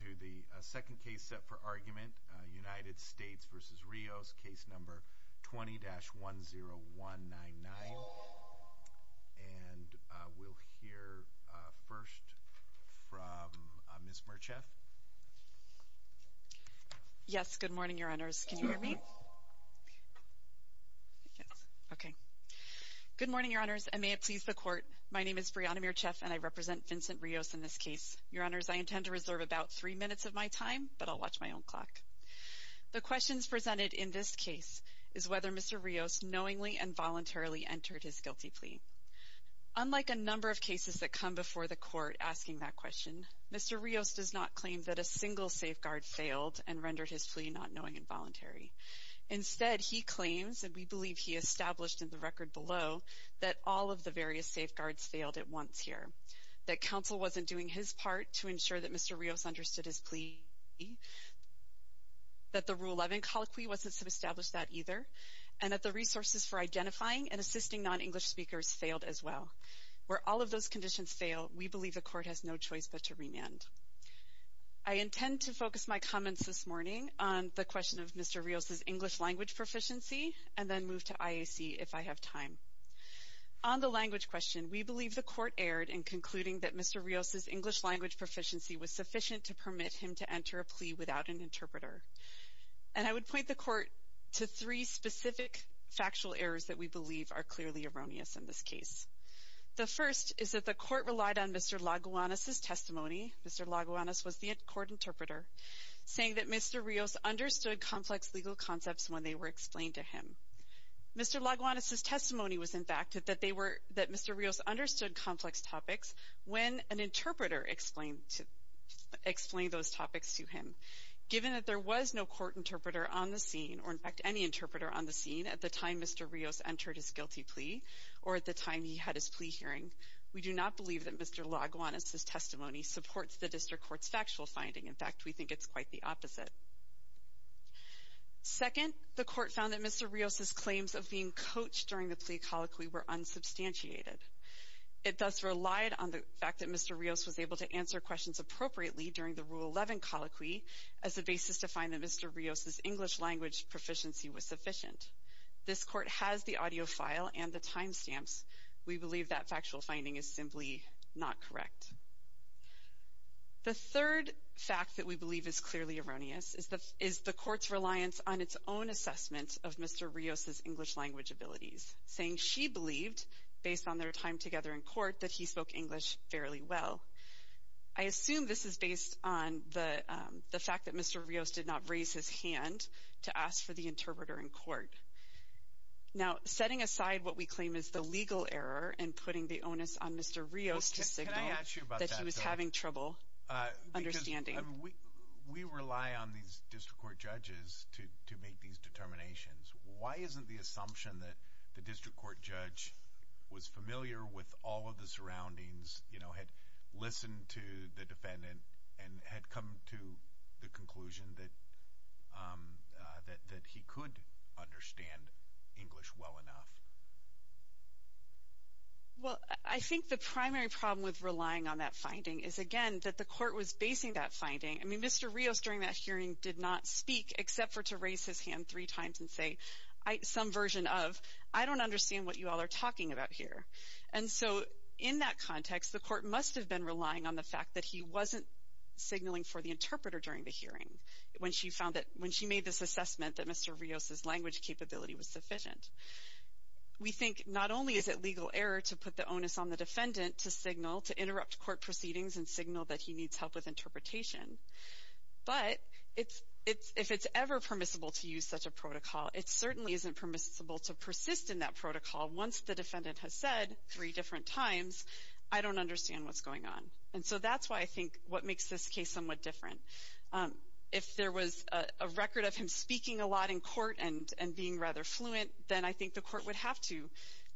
to the second case set for argument, United States v. Rios, case number 20-10199. And we'll hear first from Ms. Mircheff. Yes, good morning, Your Honors. Can you hear me? Yes. Okay. Good morning, Your Honors, and may it please the Court. My name is Brianna Mircheff, and I represent Vincent Rios in this case. Your Honors, I intend to reserve about three minutes of my time, but I'll watch my own clock. The questions presented in this case is whether Mr. Rios knowingly and voluntarily entered his guilty plea. Unlike a number of cases that come before the Court asking that question, Mr. Rios does not claim that a single safeguard failed and rendered his plea not knowing and voluntary. Instead, he claims, and we believe he established in the record below, that all of the various safeguards failed at once here, that counsel wasn't doing his part to ensure that Mr. Rios understood his plea, that the Rule 11 colloquy wasn't established that either, and that the resources for identifying and assisting non-English speakers failed as well. Where all of those conditions fail, we believe the Court has no choice but to remand. I intend to focus my comments this morning on the question of Mr. Rios' English language proficiency, and then move to IAC if I have time. On the language question, we believe the Court erred in concluding that Mr. Rios' English language proficiency was sufficient to permit him to enter a plea without an interpreter. And I would point the Court to three specific factual errors that we believe are clearly erroneous in this case. The first is that the Court relied on Mr. Laguanas' testimony, Mr. Laguanas was the court interpreter, saying that Mr. Rios understood complex legal concepts when they were explained to him. Mr. Laguanas' testimony was, in fact, that Mr. Rios understood complex topics when an interpreter explained those topics to him. Given that there was no court interpreter on the scene, or in fact any interpreter on the scene, at the time Mr. Rios entered his guilty plea, or at the time he had his plea hearing, we do not believe that Mr. Laguanas' testimony supports the District Court's factual finding. In fact, we think it's quite the opposite. Second, the Court found that Mr. Rios' claims of being coached during the plea colloquy were unsubstantiated. It thus relied on the fact that Mr. Rios was able to answer questions appropriately during the Rule 11 colloquy as a basis to find that Mr. Rios' English language proficiency was sufficient. This Court has the audio file and the timestamps. We believe that factual finding is simply not correct. The third fact that we believe is clearly erroneous is the Court's reliance on its own assessment of Mr. Rios' English language abilities, saying she believed, based on their time together in court, that he spoke English fairly well. I assume this is based on the fact that Mr. Rios did not raise his hand to ask for the interpreter in court. Now, setting aside what we claim is the legal error in putting the onus on Mr. Rios to signal that he was having trouble understanding. We rely on these district court judges to make these determinations. Why isn't the assumption that the district court judge was familiar with all of the surroundings, had listened to the defendant, and had come to the conclusion that he could understand English well enough? Well, I think the primary problem with relying on that finding is, again, that the Court was basing that finding. I mean, Mr. Rios, during that hearing, did not speak except for to raise his hand three times and say some version of, I don't understand what you all are talking about here. And so in that context, the Court must have been relying on the fact that he wasn't signaling for the interpreter during the hearing when she made this assessment that Mr. Rios' language capability was sufficient. We think not only is it legal error to put the onus on the defendant to signal, to interrupt court proceedings and signal that he needs help with interpretation, but if it's ever permissible to use such a protocol, it certainly isn't permissible to persist in that protocol once the defendant has said three different times, I don't understand what's going on. And so that's why I think what makes this case somewhat different. If there was a record of him speaking a lot in court and being rather fluent, then I think the Court would have to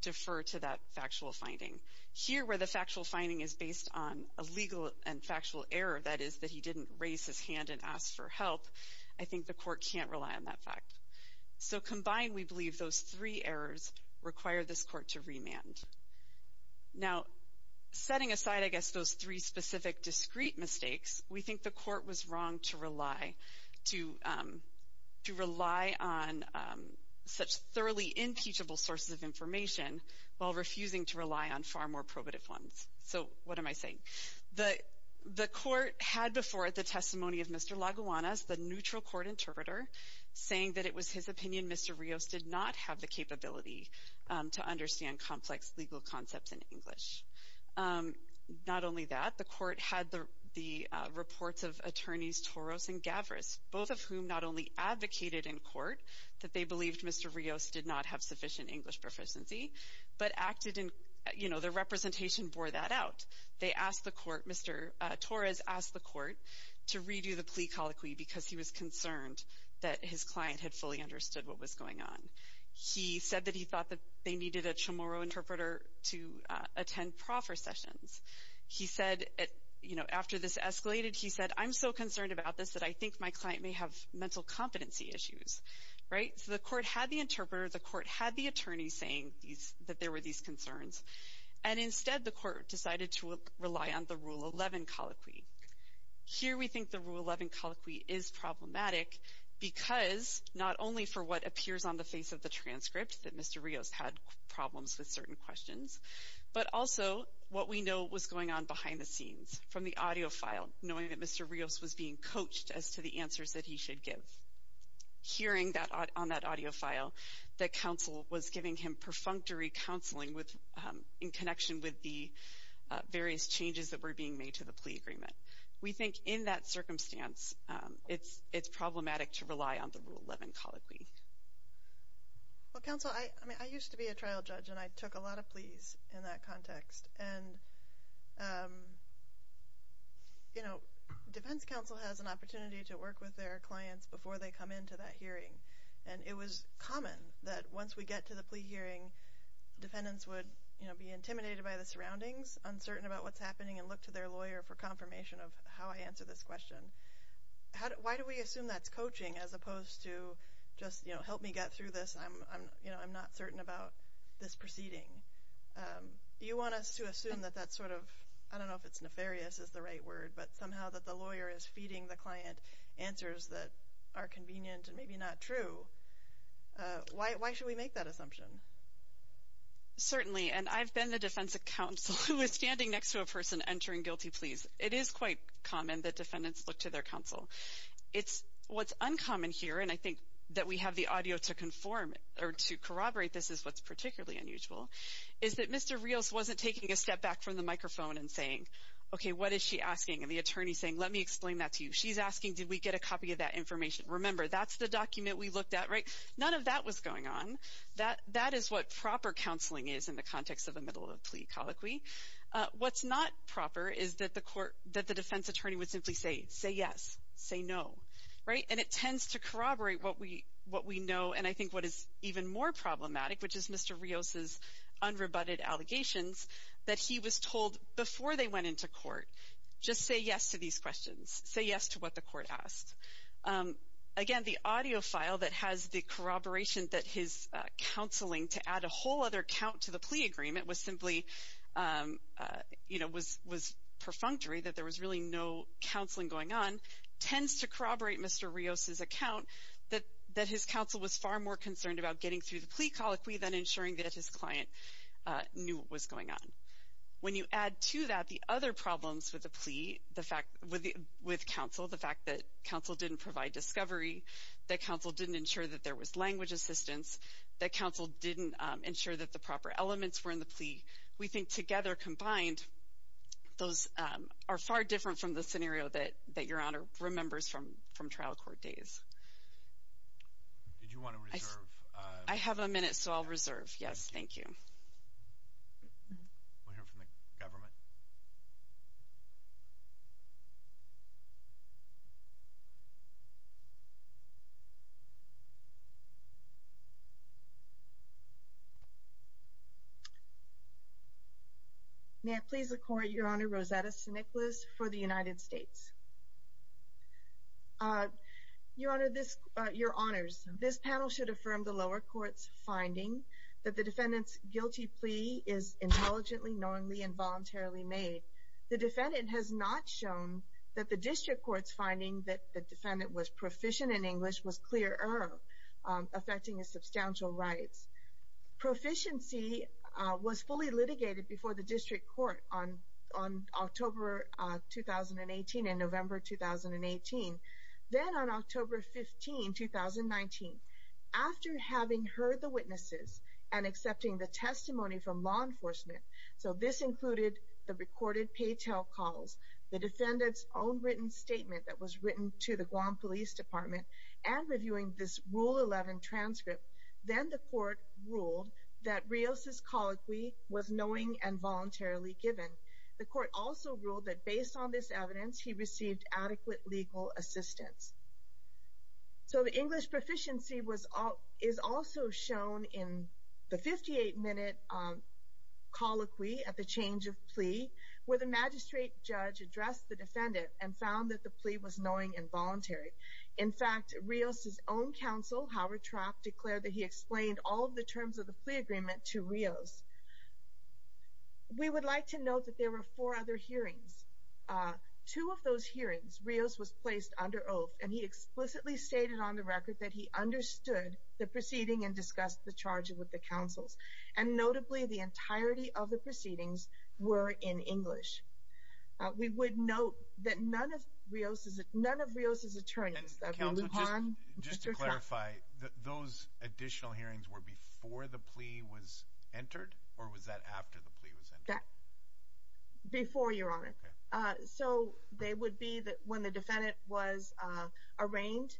defer to that factual finding. Here, where the factual finding is based on a legal and factual error, that is, that he didn't raise his hand and ask for help, I think the Court can't rely on that fact. So combined, we believe those three errors require this Court to remand. Now, setting aside, I guess, those three specific discrete mistakes, we think the Court was wrong to rely on such thoroughly impeachable sources of information while refusing to rely on far more probative ones. So what am I saying? The Court had before it the testimony of Mr. Laguanas, the neutral court interpreter, saying that it was his opinion Mr. Rios did not have the capability to understand complex legal concepts in English. Not only that, the Court had the reports of attorneys Toros and Gavras, both of whom not only advocated in court that they believed Mr. Rios did not have sufficient English proficiency, but acted in, you know, their representation bore that out. They asked the Court, Mr. Torres asked the Court to redo the plea colloquy because he was concerned that his client had fully understood what was going on. He said that he thought that they needed a Chamorro interpreter to attend proffer sessions. He said, you know, after this escalated, he said, I'm so concerned about this that I think my client may have mental competency issues. Right? So the Court had the interpreter. The Court had the attorney saying that there were these concerns. And instead, the Court decided to rely on the Rule 11 colloquy. Here we think the Rule 11 colloquy is problematic because not only for what appears on the face of the transcript that Mr. Rios had problems with certain questions, but also what we know was going on behind the scenes from the audio file, knowing that Mr. Rios was being coached as to the answers that he should give. Hearing on that audio file that counsel was giving him perfunctory counseling in connection with the various changes that were being made to the plea agreement. We think in that circumstance, it's problematic to rely on the Rule 11 colloquy. Well, counsel, I mean, I used to be a trial judge, and I took a lot of pleas in that context. And, you know, defense counsel has an opportunity to work with their clients before they come into that hearing. And it was common that once we get to the plea hearing, defendants would, you know, be intimidated by the surroundings, uncertain about what's happening, and look to their lawyer for confirmation of how I answer this question. Why do we assume that's coaching as opposed to just, you know, help me get through this. You know, I'm not certain about this proceeding. You want us to assume that that's sort of, I don't know if it's nefarious is the right word, but somehow that the lawyer is feeding the client answers that are convenient and maybe not true. Why should we make that assumption? Certainly, and I've been the defense counsel who is standing next to a person entering guilty pleas. It is quite common that defendants look to their counsel. It's what's uncommon here, and I think that we have the audio to conform or to corroborate this is what's particularly unusual, is that Mr. Rios wasn't taking a step back from the microphone and saying, okay, what is she asking? And the attorney saying, let me explain that to you. She's asking, did we get a copy of that information? Remember, that's the document we looked at, right? None of that was going on. That is what proper counseling is in the context of a middle of plea colloquy. What's not proper is that the defense attorney would simply say, say yes, say no, right? And it tends to corroborate what we know and I think what is even more problematic, which is Mr. Rios' unrebutted allegations that he was told before they went into court, just say yes to these questions, say yes to what the court asked. Again, the audio file that has the corroboration that his counseling to add a whole other count to the plea agreement was simply, you know, was perfunctory, that there was really no counseling going on, tends to corroborate Mr. Rios' account that his counsel was far more concerned about getting through the plea colloquy than ensuring that his client knew what was going on. When you add to that the other problems with the plea, with counsel, the fact that counsel didn't provide discovery, that counsel didn't ensure that there was language assistance, that counsel didn't ensure that the proper elements were in the plea, we think together combined those are far different from the scenario that Your Honor remembers from trial court days. Did you want to reserve? I have a minute, so I'll reserve. Yes, thank you. We'll hear from the government. May I please record Your Honor, Rosetta St. Nicholas for the United States. Your Honor, this, Your Honors, this panel should affirm the lower court's finding that the defendant's guilty plea is intelligently, knowingly, and voluntarily made. The defendant has not shown that the district court's finding that the defendant was proficient in English was clearer, affecting his substantial rights. Proficiency was fully litigated before the district court on October 2018 and November 2018. Then on October 15, 2019, after having heard the witnesses and accepting the testimony from law enforcement, so this included the recorded paytel calls, the defendant's own written statement that was written to the Guam Police Department, and reviewing this Rule 11 transcript, then the court ruled that Rios' colloquy was knowing and voluntarily given. The court also ruled that based on this evidence, he received adequate legal assistance. So the English proficiency is also shown in the 58-minute colloquy at the change of plea, where the magistrate judge addressed the defendant and found that the plea was knowing and voluntary. In fact, Rios' own counsel, Howard Trapp, declared that he explained all of the terms of the plea agreement to Rios. We would like to note that there were four other hearings. Two of those hearings, Rios was placed under oath, and he explicitly stated on the record that he understood the proceeding and discussed the charges with the counsels, and notably, the entirety of the proceedings were in English. We would note that none of Rios' attorneys, that would be Lujan, Mr. Trapp... And counsel, just to clarify, those additional hearings were before the plea was entered, or was that after the plea was entered? Before, Your Honor. Okay. So they would be when the defendant was arraigned.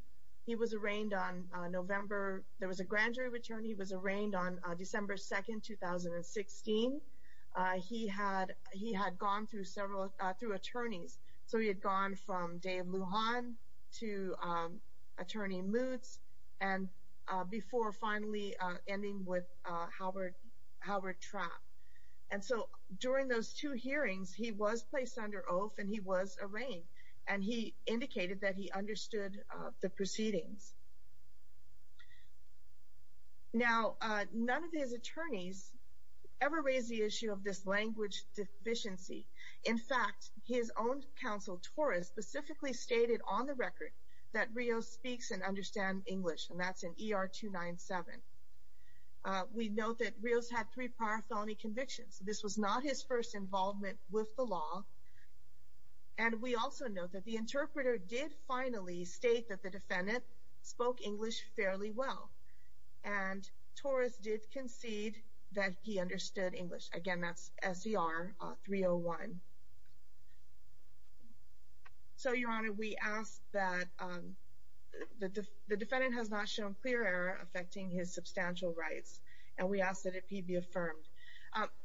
He was arraigned on November, there was a grand jury return, he was arraigned on December 2, 2016. He had gone through several, through attorneys, so he had gone from Dave Lujan to Attorney Mutz, and before finally ending with Howard Trapp. And so during those two hearings, he was placed under oath and he was arraigned, and he indicated that he understood the proceedings. Now, none of his attorneys ever raised the issue of this language deficiency. In fact, his own counsel, Torres, specifically stated on the record that Rios speaks and understands English, and that's in ER 297. We note that Rios had three prior felony convictions. This was not his first involvement with the law. And we also note that the interpreter did finally state that the defendant spoke English fairly well, and Torres did concede that he understood English. Again, that's SER 301. So, Your Honor, we ask that the defendant has not shown clear error affecting his substantial rights, and we ask that it be affirmed.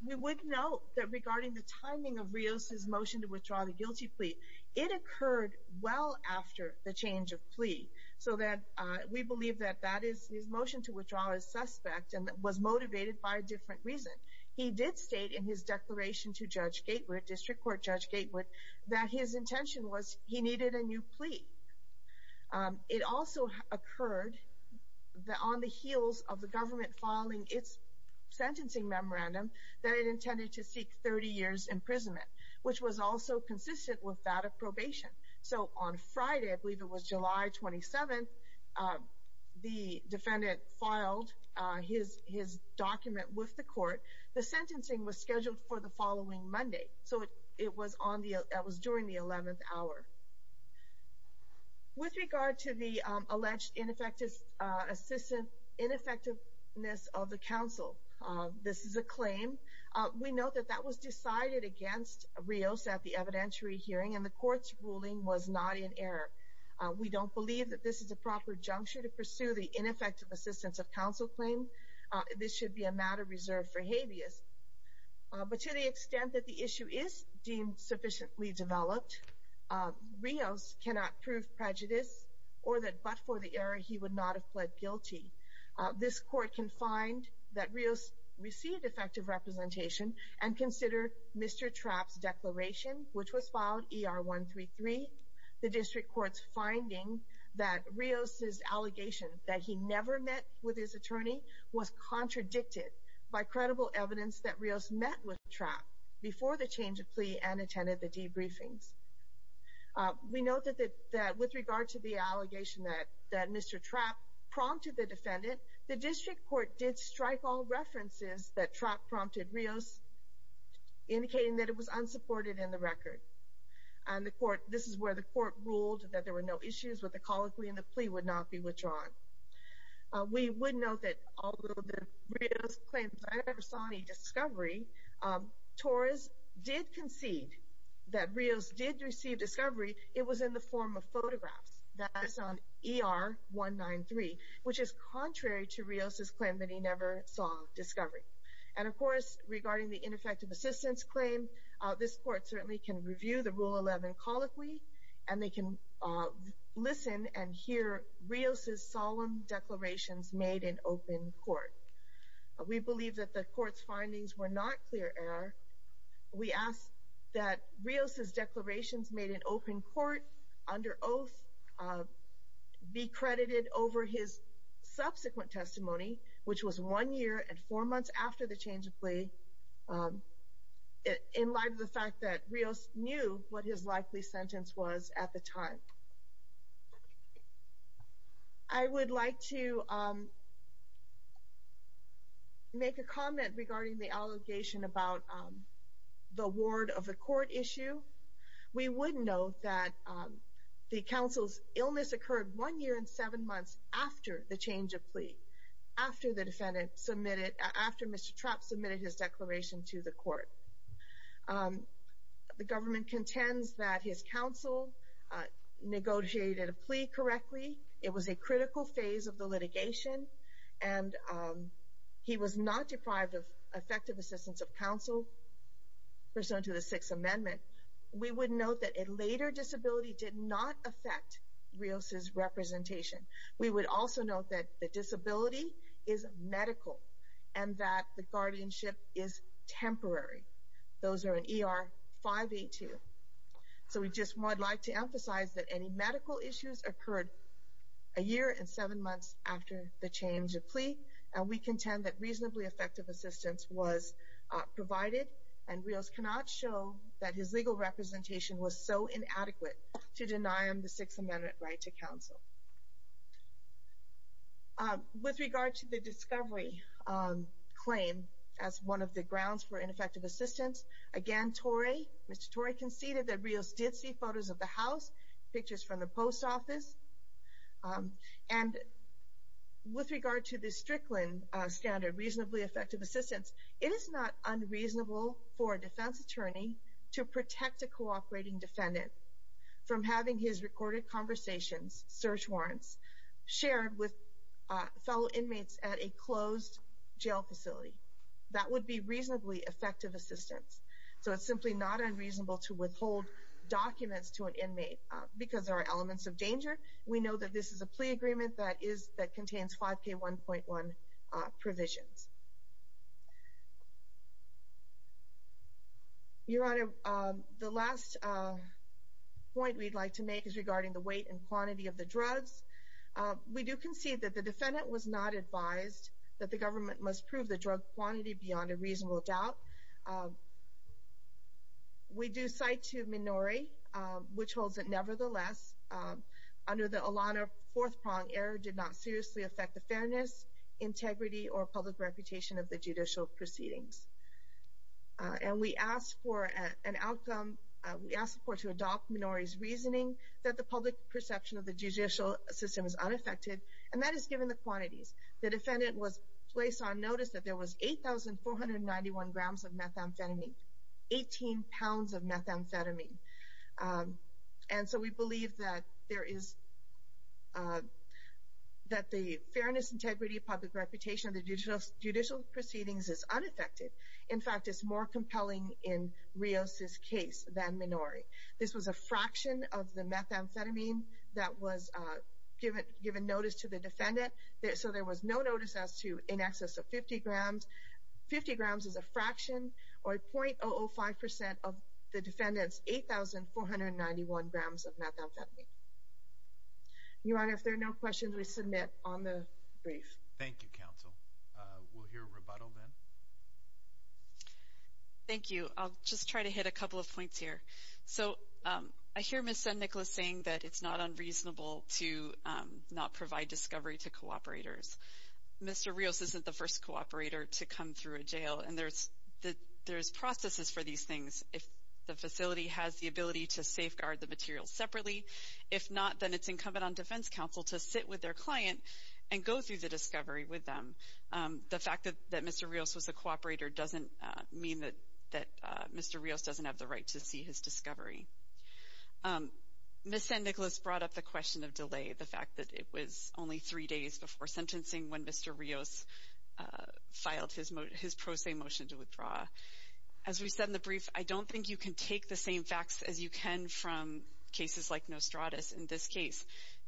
We would note that regarding the timing of Rios' motion to withdraw the guilty plea, it occurred well after the change of plea, so that we believe that his motion to withdraw is suspect and was motivated by a different reason. He did state in his declaration to Judge Gatewood, District Court Judge Gatewood, that his intention was he needed a new plea. It also occurred on the heels of the government filing its sentencing memorandum that it intended to seek 30 years' imprisonment, which was also consistent with that of probation. So, on Friday, I believe it was July 27th, the defendant filed his document with the court. The sentencing was scheduled for the following Monday, so it was during the 11th hour. With regard to the alleged ineffectiveness of the counsel, this is a claim. We note that that was decided against Rios at the evidentiary hearing, and the court's ruling was not in error. We don't believe that this is the proper juncture to pursue the ineffective assistance of counsel claim. This should be a matter reserved for habeas. But to the extent that the issue is deemed sufficiently developed, Rios cannot prove prejudice or that but for the error he would not have pled guilty. This court can find that Rios received effective representation and consider Mr. Trapp's declaration, which was filed ER 133. The district court's finding that Rios' allegation that he never met with his attorney was contradicted by credible evidence that Rios met with Trapp before the change of plea and attended the debriefings. We note that with regard to the allegation that Mr. Trapp prompted the defendant, the district court did strike all references that Trapp prompted Rios, indicating that it was unsupported in the record. And this is where the court ruled that there were no issues with the colloquy and the plea would not be withdrawn. We would note that although Rios claims that he never saw any discovery, Torres did concede that Rios did receive discovery. It was in the form of photographs. That is on ER 193, which is contrary to Rios' claim that he never saw discovery. And of course, regarding the ineffective assistance claim, this court certainly can review the Rule 11 colloquy and they can listen and hear Rios' solemn declarations made in open court. We believe that the court's findings were not clear error. We ask that Rios' declarations made in open court under oath be credited over his subsequent testimony, which was one year and four months after the change of plea, in light of the fact that Rios knew what his likely sentence was at the time. I would like to make a comment regarding the allegation about the ward of the court issue. We would note that the counsel's illness occurred one year and seven months after the change of plea, after Mr. Trapp submitted his declaration to the court. The government contends that his counsel negotiated a plea correctly. It was a critical phase of the litigation and he was not deprived of effective assistance of counsel, pursuant to the Sixth Amendment. We would note that a later disability did not affect Rios' representation. We would also note that the disability is medical and that the guardianship is temporary. Those are in ER 582. So we just would like to emphasize that any medical issues occurred a year and seven months after the change of plea, and we contend that reasonably effective assistance was provided, and Rios cannot show that his legal representation was so inadequate to deny him the Sixth Amendment right to counsel. With regard to the discovery claim as one of the grounds for ineffective assistance, again, Mr. Torrey conceded that Rios did see photos of the house, pictures from the post office. And with regard to the Strickland standard, reasonably effective assistance, it is not unreasonable for a defense attorney to protect a cooperating defendant from having his recorded conversations, search warrants, shared with fellow inmates at a closed jail facility. That would be reasonably effective assistance. So it's simply not unreasonable to withhold documents to an inmate because there are elements of danger. We know that this is a plea agreement that contains 5K1.1 provisions. Your Honor, the last point we'd like to make is regarding the weight and quantity of the drugs. We do concede that the defendant was not advised that the government must prove the drug quantity beyond a reasonable doubt. We do cite to Minori, which holds that nevertheless, under the Ilana fourth prong, error did not seriously affect the fairness, integrity, or public reputation of the judicial proceedings. And we ask for an outcome, we ask the court to adopt Minori's reasoning that the public perception of the judicial system is unaffected, and that is given the quantities. The defendant was placed on notice that there was 8,491 grams of methamphetamine, 18 pounds of methamphetamine. And so we believe that the fairness, integrity, and public reputation of the judicial proceedings is unaffected. In fact, it's more compelling in Rios' case than Minori. This was a fraction of the methamphetamine that was given notice to the defendant, so there was no notice as to in excess of 50 grams. 50 grams is a fraction, or 0.005% of the defendant's 8,491 grams of methamphetamine. Your Honor, if there are no questions, we submit on the brief. Thank you, counsel. We'll hear rebuttal then. Thank you. I'll just try to hit a couple of points here. So I hear Ms. Zendikla saying that it's not unreasonable to not provide discovery to cooperators. Mr. Rios isn't the first cooperator to come through a jail, and there's processes for these things. If the facility has the ability to safeguard the material separately, if not, then it's incumbent on defense counsel to sit with their client and go through the discovery with them. The fact that Mr. Rios was a cooperator doesn't mean that Mr. Rios doesn't have the right to see his discovery. Ms. Zendikla's brought up the question of delay, the fact that it was only three days before sentencing when Mr. Rios filed his pro se motion to withdraw. As we said in the brief, I don't think you can take the same facts as you can from cases like Nostradus. In this case,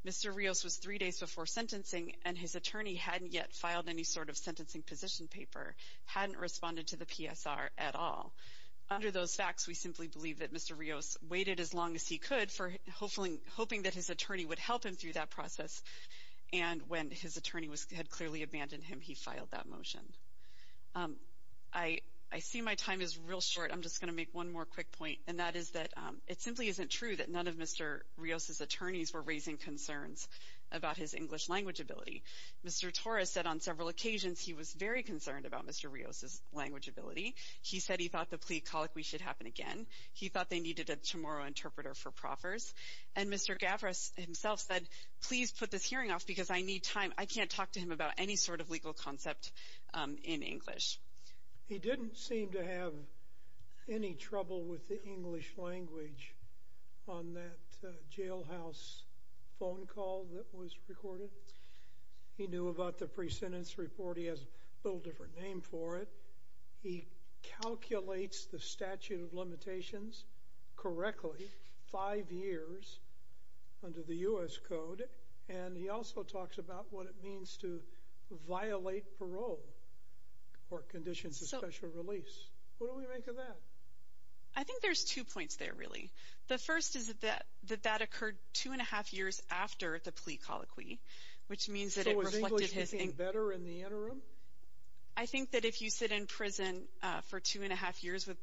Mr. Rios was three days before sentencing, and his attorney hadn't yet filed any sort of sentencing position paper, hadn't responded to the PSR at all. Under those facts, we simply believe that Mr. Rios waited as long as he could, hoping that his attorney would help him through that process, and when his attorney had clearly abandoned him, he filed that motion. I see my time is real short. I'm just going to make one more quick point, and that is that it simply isn't true that none of Mr. Rios' attorneys were raising concerns about his English language ability. Mr. Torres said on several occasions he was very concerned about Mr. Rios' language ability. He said he thought the plea colloquy should happen again. He thought they needed a Chamorro interpreter for proffers, and Mr. Gavras himself said, please put this hearing off because I need time. I can't talk to him about any sort of legal concept in English. He didn't seem to have any trouble with the English language on that jailhouse phone call that was recorded. He knew about the pre-sentence report. He has a little different name for it. He calculates the statute of limitations correctly five years under the U.S. Code, and he also talks about what it means to violate parole or conditions of special release. What do we make of that? I think there's two points there, really. The first is that that occurred two and a half years after the plea colloquy, which means that it reflected his – So was English getting better in the interim? I think that if you sit in prison for two and a half years with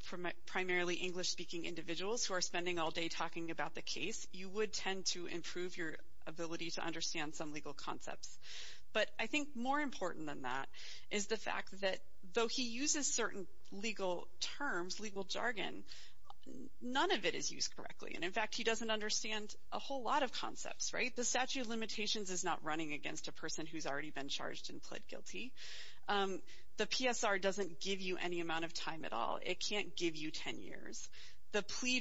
primarily English-speaking individuals who are spending all day talking about the case, you would tend to improve your ability to understand some legal concepts. But I think more important than that is the fact that though he uses certain legal terms, legal jargon, none of it is used correctly, and in fact, he doesn't understand a whole lot of concepts, right? The statute of limitations is not running against a person who's already been charged and pled guilty. The PSR doesn't give you any amount of time at all. It can't give you 10 years. The plea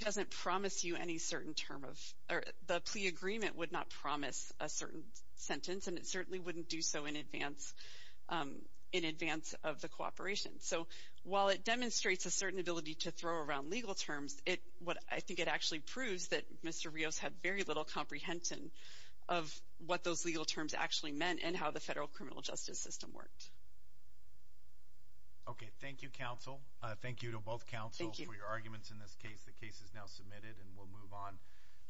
agreement would not promise a certain sentence, and it certainly wouldn't do so in advance of the cooperation. So while it demonstrates a certain ability to throw around legal terms, I think it actually proves that Mr. Rios had very little comprehension of what those legal terms actually meant and how the federal criminal justice system worked. Okay, thank you, counsel. Thank you to both counsels for your arguments in this case. The case is now submitted, and we'll move on.